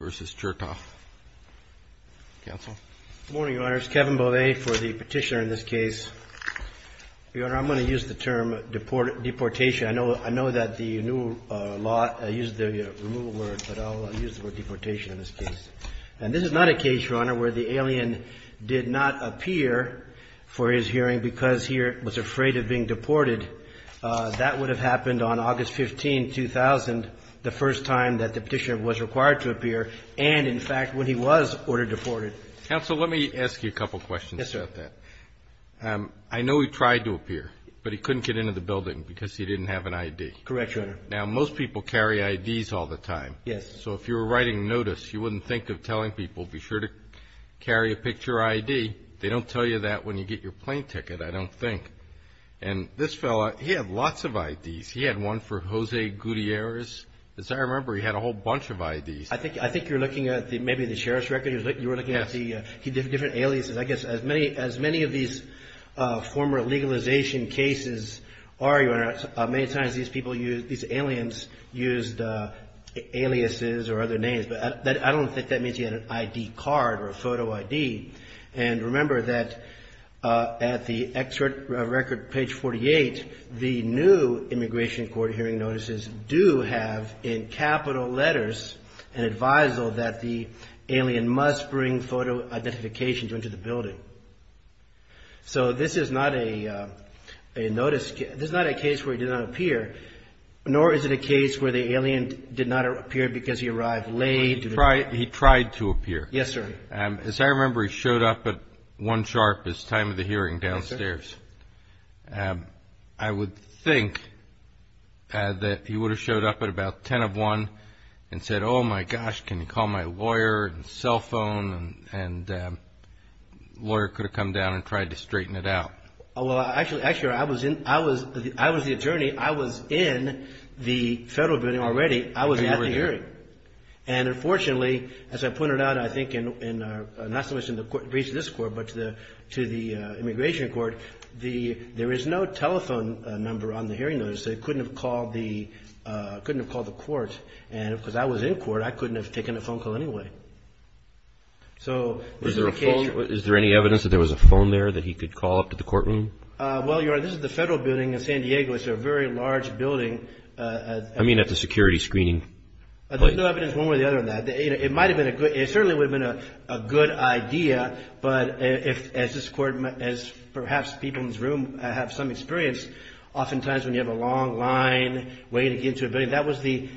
Good morning, Your Honor. It's Kevin Bollet for the petitioner in this case. Your Honor, I'm going to use the term deportation. I know that the new law uses the removal word, but I'll use the word deportation in this case. And this is not a case, Your Honor, where the alien did not appear for his hearing because he was afraid of being deported. That would have happened on August 15, 2000, the first time that the petitioner was required to appear and, in fact, when he was ordered deported. Counsel, let me ask you a couple questions about that. Yes, sir. I know he tried to appear, but he couldn't get into the building because he didn't have an I.D. Correct, Your Honor. Now, most people carry I.D.s all the time. Yes. So if you were writing notice, you wouldn't think of telling people, be sure to carry a picture I.D. They don't tell you that when you get your plane ticket, I don't think. And this fellow, he had lots of I.D.s. He had one for Jose Gutierrez. As I remember, he had a whole bunch of I.D.s. I think you're looking at maybe the sheriff's record. Yes. You were looking at the different aliases. I guess as many of these former legalization cases are, Your Honor, many times these aliens used aliases or other names. But I don't think that means he had an I.D. card or a photo I.D. And remember that at the record page 48, the new immigration court hearing notices do have in capital letters an advisal that the alien must bring photo identification to enter the building. So this is not a notice case. This is not a case where he did not appear, nor is it a case where the alien did not appear because he arrived late. He tried to appear. Yes, sir. As I remember, he showed up at 1 sharp, his time of the hearing, downstairs. Yes, sir. I would think that he would have showed up at about 10 of 1 and said, oh, my gosh, can you call my lawyer and cell phone? And the lawyer could have come down and tried to straighten it out. Well, actually, I was the attorney. I was in the federal building already. I was at the hearing. And you were there. Well, actually, as I pointed out, I think, not so much in the case of this court, but to the immigration court, there is no telephone number on the hearing notice. They couldn't have called the court. And because I was in court, I couldn't have taken a phone call anyway. Is there any evidence that there was a phone there that he could call up to the courtroom? Well, Your Honor, this is the federal building in San Diego. It's a very large building. I mean at the security screening. There's no evidence one way or the other on that. It certainly would have been a good idea, but as perhaps people in this room have some experience, oftentimes when you have a long line waiting to get to a building,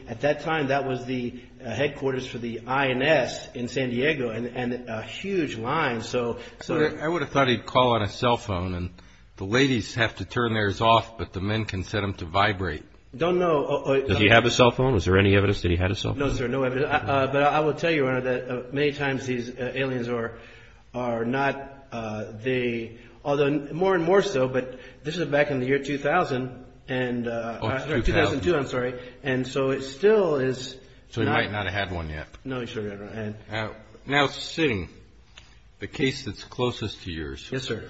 at that time, that was the headquarters for the INS in San Diego and a huge line. I would have thought he'd call on a cell phone. And the ladies have to turn theirs off, but the men can set them to vibrate. I don't know. Did he have a cell phone? Was there any evidence that he had a cell phone? No, sir, no evidence. But I will tell you, Your Honor, that many times these aliens are not the – although more and more so, but this is back in the year 2000 and – Oh, 2000. 2002, I'm sorry. And so it still is not – So he might not have had one yet. No, he certainly didn't. Now, Singh, the case that's closest to yours. Yes, sir.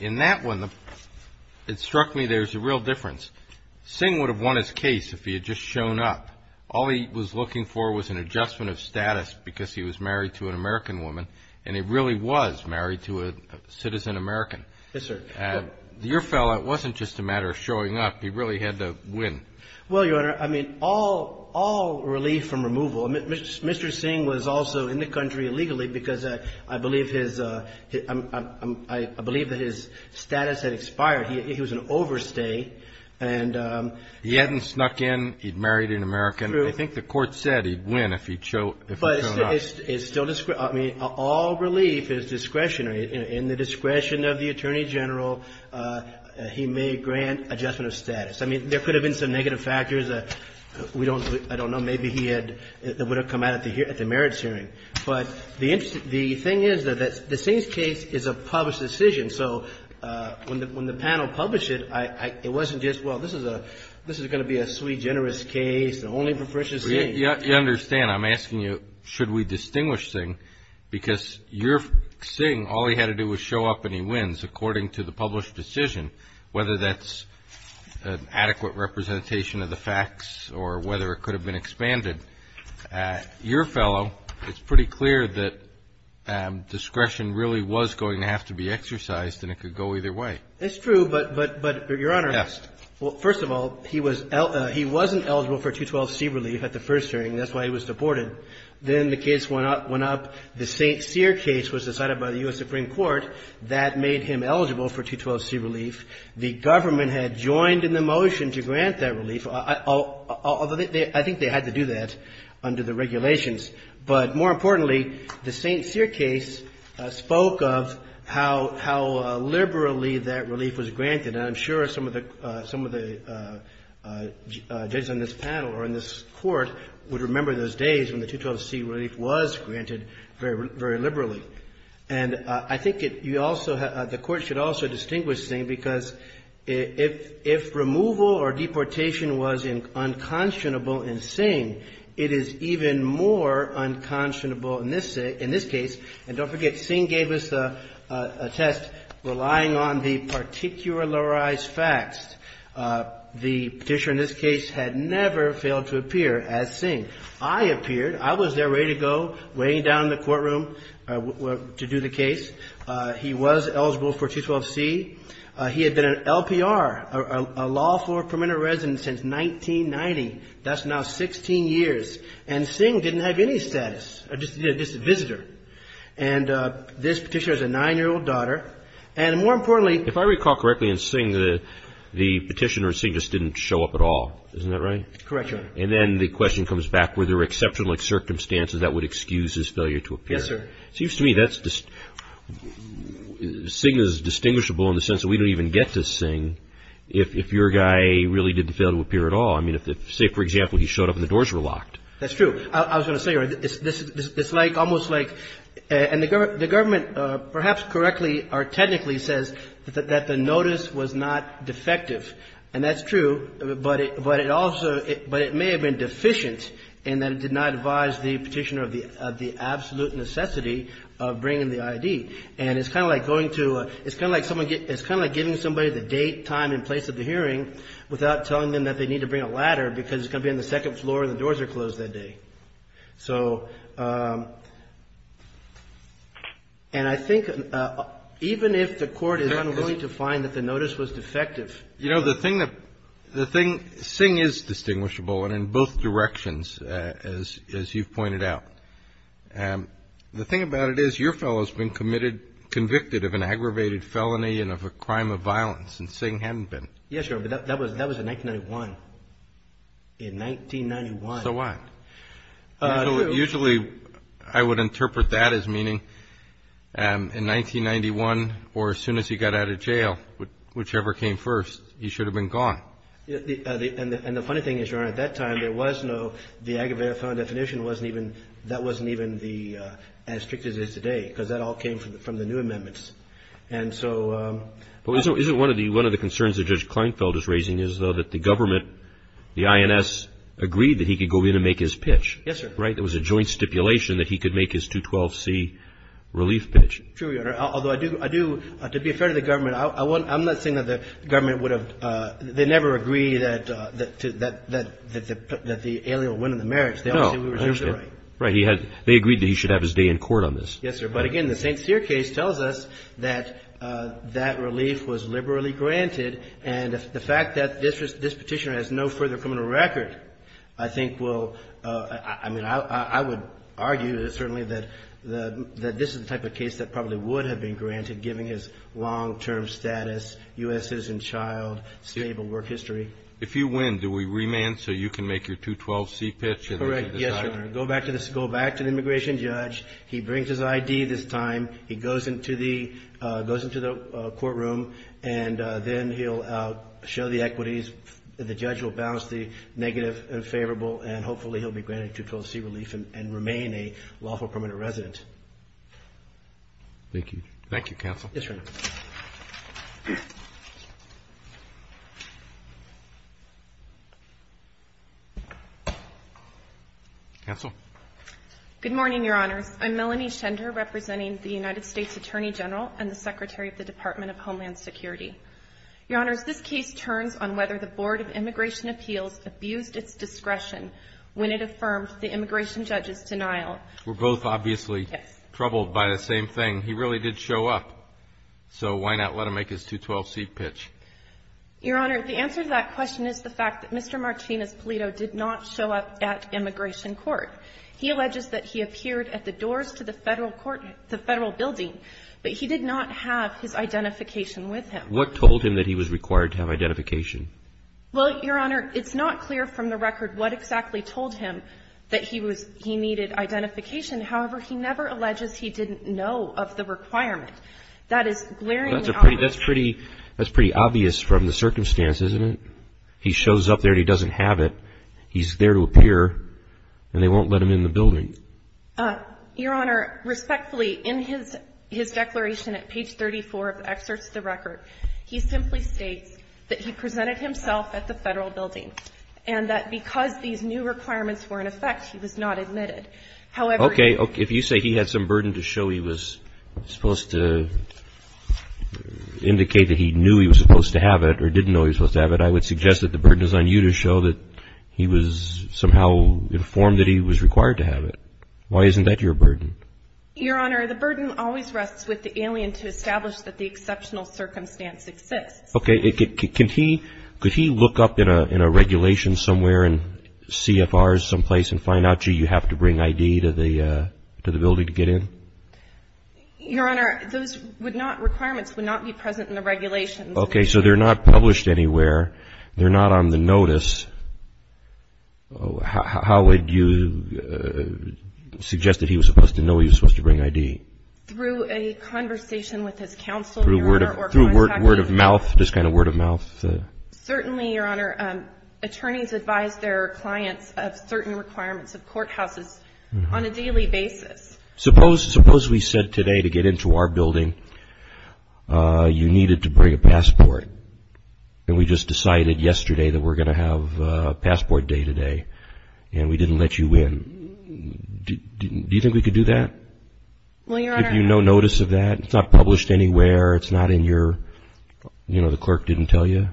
In that one, it struck me there's a real difference. Singh would have won his case if he had just shown up. All he was looking for was an adjustment of status because he was married to an American woman, and he really was married to a citizen American. Yes, sir. Your fellow, it wasn't just a matter of showing up. He really had to win. Well, Your Honor, I mean, all relief from removal. Mr. Singh was also in the country illegally because I believe his – I believe that his status had expired. He was an overstay. He hadn't snuck in. He'd married an American. I think the court said he'd win if he'd shown up. But it's still – I mean, all relief is discretionary. In the discretion of the Attorney General, he may grant adjustment of status. I mean, there could have been some negative factors. We don't – I don't know. Maybe he would have come out at the merits hearing. But the thing is that the Singh's case is a published decision, so when the panel published it, it wasn't just, well, this is going to be a sweet, generous case, and only for Fritjof Singh. You understand. I'm asking you, should we distinguish Singh? Because your Singh, all he had to do was show up and he wins, according to the published decision, whether that's an adequate representation of the facts or whether it could have been expanded. Your fellow, it's pretty clear that discretion really was going to have to be exercised and it could go either way. That's true, but, Your Honor. Yes. Well, first of all, he was – he wasn't eligible for 212C relief at the first hearing. That's why he was deported. Then the case went up. The St. Cyr case was decided by the U.S. Supreme Court. That made him eligible for 212C relief. The government had joined in the motion to grant that relief. I think they had to do that under the regulations. But more importantly, the St. Cyr case spoke of how liberally that relief was granted. And I'm sure some of the judges on this panel or in this Court would remember those days when the 212C relief was granted very liberally. And I think you also – the Court should also distinguish, Sing, because if removal or deportation was unconscionable in Sing, it is even more unconscionable in this case. And don't forget, Sing gave us a test relying on the particularized facts. The Petitioner in this case had never failed to appear as Sing. I appeared. I was there ready to go, waiting down in the courtroom. I went to do the case. He was eligible for 212C. He had been an LPR, a lawful permanent resident, since 1990. That's now 16 years. And Sing didn't have any status, just a visitor. And this Petitioner has a 9-year-old daughter. And more importantly – If I recall correctly in Sing, the Petitioner in Sing just didn't show up at all. Isn't that right? Correct, Your Honor. And then the question comes back, were there exceptional circumstances that would excuse his failure to appear? Yes, sir. Seems to me that's – Sing is distinguishable in the sense that we don't even get to Sing if your guy really did fail to appear at all. I mean, say, for example, he showed up and the doors were locked. That's true. I was going to say, Your Honor, it's like almost like – and the government perhaps correctly or technically says that the notice was not defective. And that's true. But it also – but it may have been deficient in that it did not advise the Petitioner of the absolute necessity of bringing the I.D. And it's kind of like going to – it's kind of like someone – it's kind of like giving somebody the date, time and place of the hearing without telling them that they need to bring a ladder because it's going to be on the second floor and the doors are closed that day. So – and I think even if the Court is unwilling to find that the notice was defective – The thing – Sing is distinguishable in both directions as you've pointed out. The thing about it is your fellow has been committed – convicted of an aggravated felony and of a crime of violence and Sing hadn't been. Yes, Your Honor, but that was in 1991. In 1991. So what? Usually I would interpret that as meaning in 1991 or as soon as he got out of jail, whichever came first, he should have been gone. And the funny thing is, Your Honor, at that time there was no – the aggravated felony definition wasn't even – that wasn't even as strict as it is today because that all came from the new amendments. And so – But isn't one of the concerns that Judge Kleinfeld is raising is, though, that the government, the INS, agreed that he could go in and make his pitch? Yes, sir. Right? There was a joint stipulation that he could make his 212C relief pitch. True, Your Honor. Although I do – to be fair to the government, I'm not saying that the government would have – they never agreed that the alial would win in the merits. No. I understand. Right. They agreed that he should have his day in court on this. Yes, sir. But, again, the St. Cyr case tells us that that relief was liberally granted. And the fact that this Petitioner has no further criminal record I think will – I mean, I would argue, certainly, that this is the type of case that probably would have been granted, given his long-term status, U.S. citizen child, stable work history. If you win, do we remand so you can make your 212C pitch? Correct. Yes, Your Honor. Go back to the immigration judge. He brings his I.D. this time. He goes into the courtroom, and then he'll show the equities. The judge will balance the negative and favorable, and hopefully he'll be granted 212C relief and remain a lawful permanent resident. Thank you. Thank you, counsel. Yes, Your Honor. Counsel. Good morning, Your Honors. I'm Melanie Schender, representing the United States Attorney General and the Secretary of the Department of Homeland Security. Your Honors, this case turns on whether the Board of Immigration Appeals abused its discretion when it affirmed the immigration judge's denial. We're both obviously troubled by the same thing. He really did show up, so why not let him make his 212C pitch? Your Honor, the answer to that question is the fact that Mr. Martinez-Polito did not show up at immigration court. He alleges that he appeared at the doors to the Federal building, but he did not have his identification with him. What told him that he was required to have identification? Well, Your Honor, it's not clear from the record what exactly told him that he needed identification. However, he never alleges he didn't know of the requirement. That is glaringly obvious. That's pretty obvious from the circumstances, isn't it? He shows up there and he doesn't have it. He's there to appear, and they won't let him in the building. Your Honor, respectfully, in his declaration at page 34 of the excerpts of the record, he simply states that he presented himself at the Federal building and that because these new requirements were in effect, he was not admitted. However he was not admitted. Okay. If you say he had some burden to show he was supposed to indicate that he knew he was supposed to have it or didn't know he was supposed to have it, I would suggest that the burden is on you to show that he was somehow informed that he was required to have it. Why isn't that your burden? Your Honor, the burden always rests with the alien to establish that the exceptional circumstance exists. Okay. Could he look up in a regulation somewhere in CFRs someplace and find out, gee, you have to bring ID to the building to get in? Your Honor, those requirements would not be present in the regulations. Okay. So they're not published anywhere. They're not on the notice. How would you suggest that he was supposed to know he was supposed to bring ID? Through a conversation with his counsel, Your Honor. Through word of mouth, just kind of word of mouth. Certainly, Your Honor, attorneys advise their clients of certain requirements of courthouses on a daily basis. Suppose we said today to get into our building you needed to bring a passport, and we just decided yesterday that we're going to have passport day today, and we didn't let you in. Do you think we could do that? Well, Your Honor. Give you no notice of that? It's not published anywhere. It's not in your, you know, the clerk didn't tell you?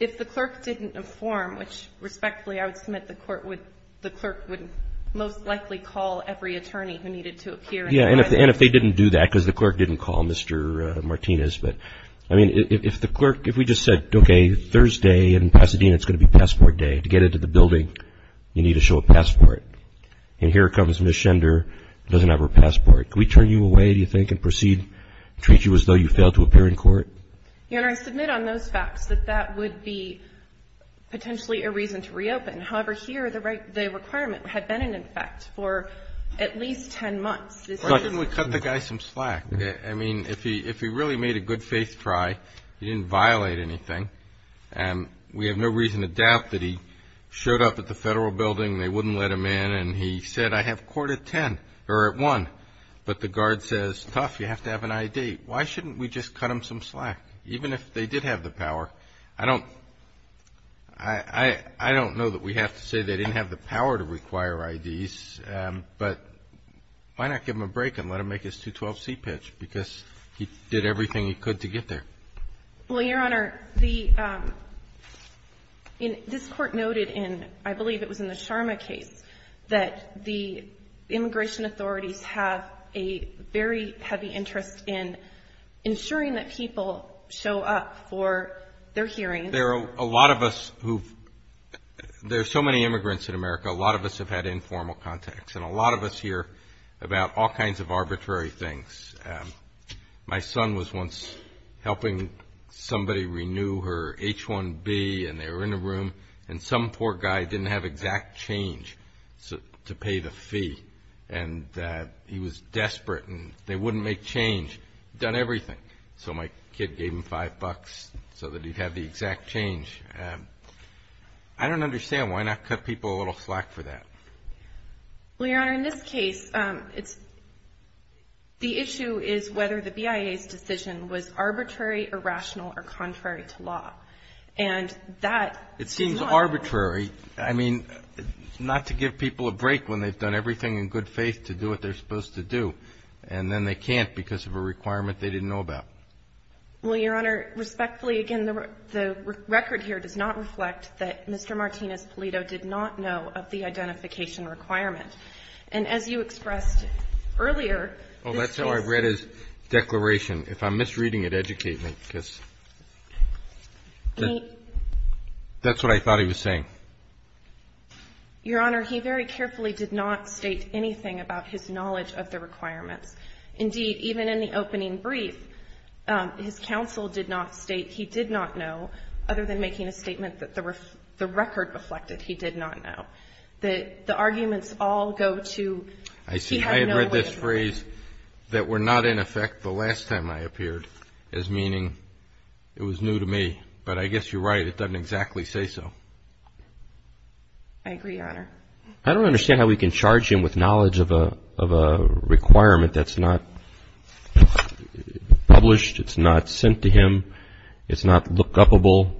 If the clerk didn't inform, which, respectfully, I would submit the court would, the clerk would most likely call every attorney who needed to appear. Yeah, and if they didn't do that because the clerk didn't call Mr. Martinez, but, I mean, if the clerk, if we just said, okay, Thursday in Pasadena it's going to be passport day. To get into the building you need to show a passport. And here comes Ms. Schender who doesn't have her passport. Can we turn you away, do you think, and proceed, treat you as though you failed to appear in court? Your Honor, I submit on those facts that that would be potentially a reason to reopen. However, here the requirement had been in effect for at least ten months. Why didn't we cut the guy some slack? I mean, if he really made a good-faith try, he didn't violate anything, and we have no reason to doubt that he showed up at the federal building, they wouldn't let him in, and he said, I have court at ten, or at one. But the guard says, tough, you have to have an I.D. Why shouldn't we just cut him some slack? Even if they did have the power, I don't know that we have to say they didn't have the power to require I.D.s. But why not give him a break and let him make his 212C pitch, because he did everything he could to get there? Well, Your Honor, the — this Court noted in, I believe it was in the Sharma case, that the immigration authorities have a very heavy interest in ensuring that people show up for their hearings. There are a lot of us who've — there are so many immigrants in America, a lot of us have had informal contacts and a lot of us hear about all kinds of arbitrary things. My son was once helping somebody renew her H-1B, and they were in a room, and some poor guy didn't have exact change to pay the fee. And he was desperate, and they wouldn't make change. He'd done everything. So my kid gave him five bucks so that he'd have the exact change. I don't understand. Why not cut people a little slack for that? Well, Your Honor, in this case, it's — the issue is whether the BIA's decision was arbitrary or rational or contrary to law. And that does not — It seems arbitrary. I mean, not to give people a break when they've done everything in good faith to do what they're supposed to do. And then they can't because of a requirement they didn't know about. Well, Your Honor, respectfully, again, the record here does not reflect that Mr. Martinez-Polito did not know of the identification requirement. And as you expressed earlier, this case — Oh, that's how I read his declaration. If I'm misreading it, educate me, because that's what I thought he was saying. Your Honor, he very carefully did not state anything about his knowledge of the requirements. Indeed, even in the opening brief, his counsel did not state he did not know, other than making a statement that the record reflected he did not know. The arguments all go to he had no way of knowing. I'm going to use a phrase that were not in effect the last time I appeared as meaning it was new to me. But I guess you're right. It doesn't exactly say so. I agree, Your Honor. I don't understand how we can charge him with knowledge of a requirement that's not published, it's not sent to him, it's not lookupable.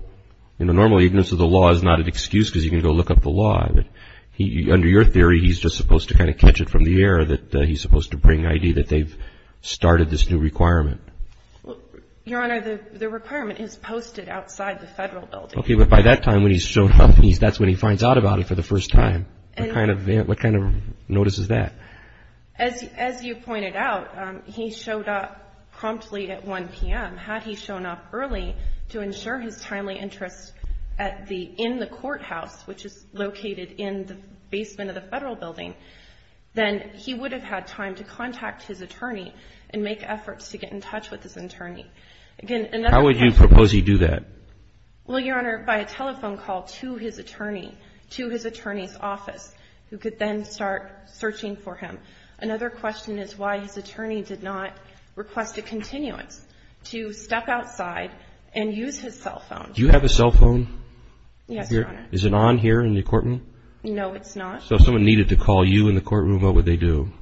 You know, normally, ignorance of the law is not an excuse because you can go look up the law. Under your theory, he's just supposed to kind of catch it from the air that he's supposed to bring ID that they've started this new requirement. Your Honor, the requirement is posted outside the federal building. Okay, but by that time when he's shown up, that's when he finds out about it for the first time. What kind of notice is that? As you pointed out, he showed up promptly at 1 p.m. Had he shown up early to ensure his timely interest in the courthouse, which is located in the basement of the federal building, then he would have had time to contact his attorney and make efforts to get in touch with his attorney. How would you propose he do that? Well, Your Honor, by a telephone call to his attorney, to his attorney's office, who could then start searching for him. Another question is why his attorney did not request a continuance to step outside and use his cell phone. Do you have a cell phone? Yes, Your Honor. Is it on here in the courtroom? No, it's not. So if someone needed to call you in the courtroom, what would they do?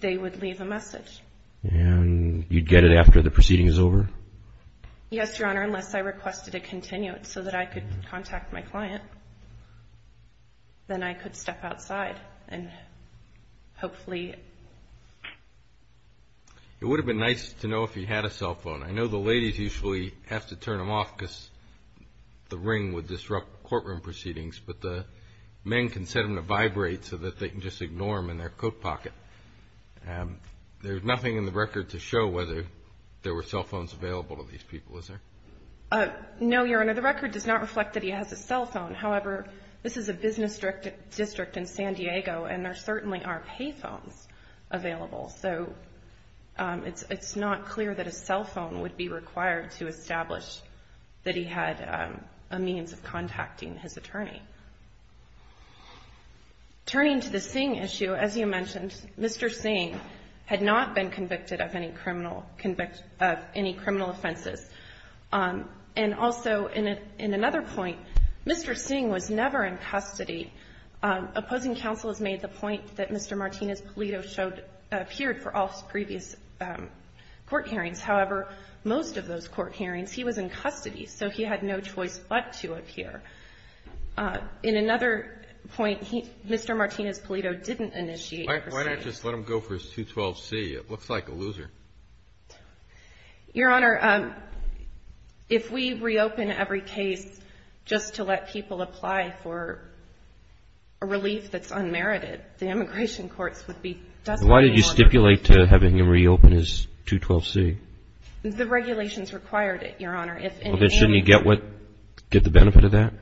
They would leave a message. And you'd get it after the proceeding is over? Yes, Your Honor, unless I requested a continuance so that I could contact my client. Then I could step outside and hopefully. It would have been nice to know if he had a cell phone. I know the ladies usually have to turn them off because the ring would disrupt courtroom proceedings, but the men can set them to vibrate so that they can just ignore them in their coat pocket. There's nothing in the record to show whether there were cell phones available to these people, is there? No, Your Honor, the record does not reflect that he has a cell phone. However, this is a business district in San Diego, and there certainly are pay phones available. So it's not clear that a cell phone would be required to establish that he had a means of contacting his attorney. Turning to the Singh issue, as you mentioned, Mr. Singh had not been convicted of any criminal offenses. And also in another point, Mr. Singh was never in custody. Opposing counsel has made the point that Mr. Martinez-Polito appeared for all previous court hearings. However, most of those court hearings he was in custody, so he had no choice but to appear. In another point, Mr. Martinez-Polito didn't initiate the proceedings. Why not just let him go for his 212C? It looks like a loser. Your Honor, if we reopen every case just to let people apply for a relief that's unmerited, the immigration courts would be desperate. Why did you stipulate to have him reopen his 212C? The regulations required it, Your Honor. Well, then shouldn't he get the benefit of that?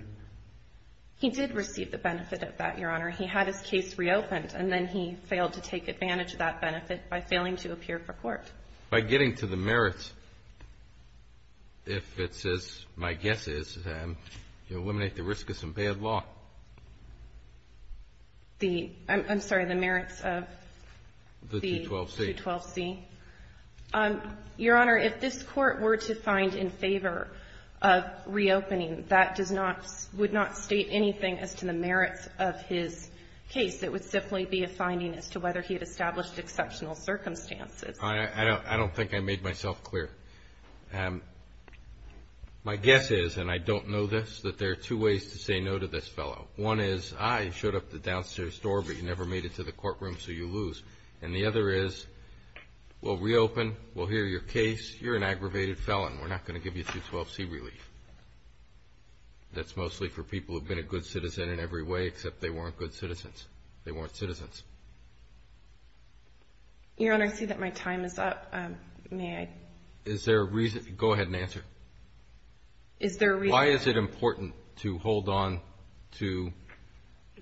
He did receive the benefit of that, Your Honor. He had his case reopened, and then he failed to take advantage of that benefit by failing to appear for court. By getting to the merits, if it's as my guess is, to eliminate the risk of some bad law. The – I'm sorry, the merits of the 212C? The 212C. Your Honor, if this Court were to find in favor of reopening, that does not – would not state anything as to the merits of his case. It would simply be a finding as to whether he had established exceptional circumstances. I don't think I made myself clear. My guess is, and I don't know this, that there are two ways to say no to this fellow. One is, I showed up at the downstairs door, but you never made it to the courtroom, so you lose. And the other is, we'll reopen, we'll hear your case, you're an aggravated felon. We're not going to give you 212C relief. That's mostly for people who've been a good citizen in every way, except they weren't good citizens. They weren't citizens. Your Honor, I see that my time is up. May I? Is there a reason – go ahead and answer. Is there a reason – Why is it important to hold on to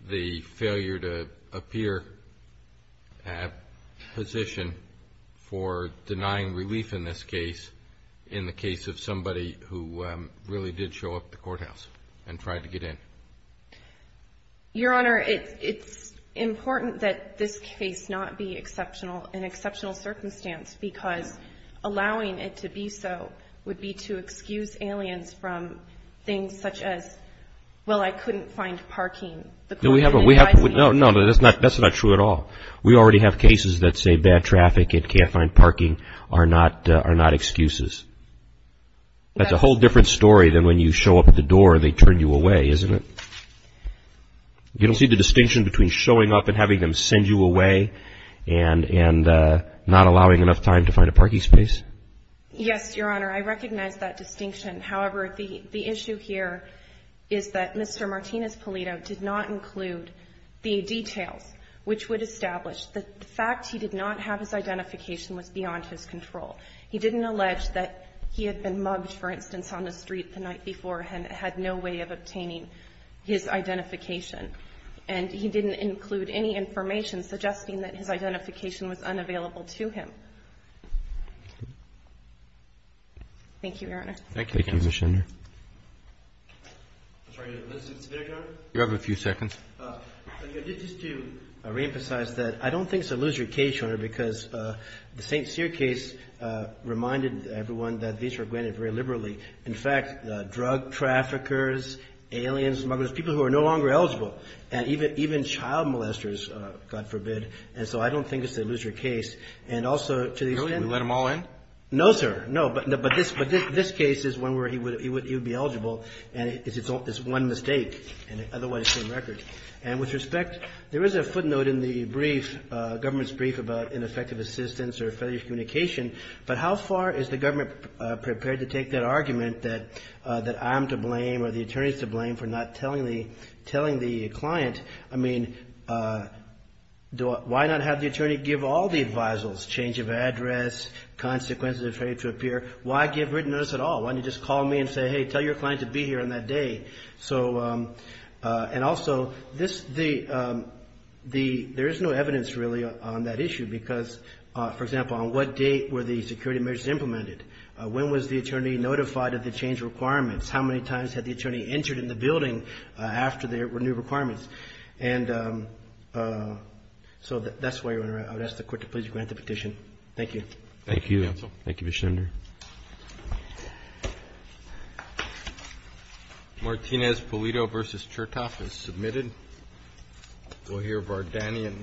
the failure to appear position for denying relief in this case, in the case of somebody who really did show up at the courthouse and tried to get in? Your Honor, it's important that this case not be an exceptional circumstance, because allowing it to be so would be to excuse aliens from things such as, well, I couldn't find parking. No, that's not true at all. We already have cases that say bad traffic and can't find parking are not excuses. That's a whole different story than when you show up at the door and they turn you away, isn't it? You don't see the distinction between showing up and having them send you away and not allowing enough time to find a parking space? Yes, Your Honor, I recognize that distinction. However, the issue here is that Mr. Martinez-Polito did not include the details which would establish the fact he did not have his identification was beyond his control. He didn't allege that he had been mugged, for instance, on the street the night before and had no way of obtaining his identification. And he didn't include any information suggesting that his identification was unavailable to him. Thank you, Your Honor. Thank you, Mr. Schindler. I'm sorry, Mr. Schindler? You have a few seconds. Just to reemphasize that I don't think it's a lose-your-case, Your Honor, because the St. Cyr case reminded everyone that these were granted very liberally. In fact, drug traffickers, aliens, muggers, people who are no longer eligible, and even child molesters, God forbid. And so I don't think it's a lose-your-case. And also to the extent that we let them all in? No, sir. No. But this case is one where he would be eligible, and it's one mistake, and otherwise it's a record. And with respect, there is a footnote in the brief, government's brief about ineffective assistance or failure of communication, but how far is the government prepared to take that argument that I'm to blame or the attorney's to blame for not telling the client? I mean, why not have the attorney give all the advisals, change of address, consequences of failure to appear? Why give written notice at all? Why don't you just call me and say, hey, tell your client to be here on that day? And also, there is no evidence, really, on that issue because, for example, on what date were the security measures implemented? When was the attorney notified of the change of requirements? How many times had the attorney entered in the building after there were new requirements? And so that's why, Your Honor, I would ask the Court to please grant the petition. Thank you. Thank you, counsel. Thank you, Mr. Schender. Martinez-Polito v. Chertoff is submitted. We'll hear Vardanyan v. Gonzales.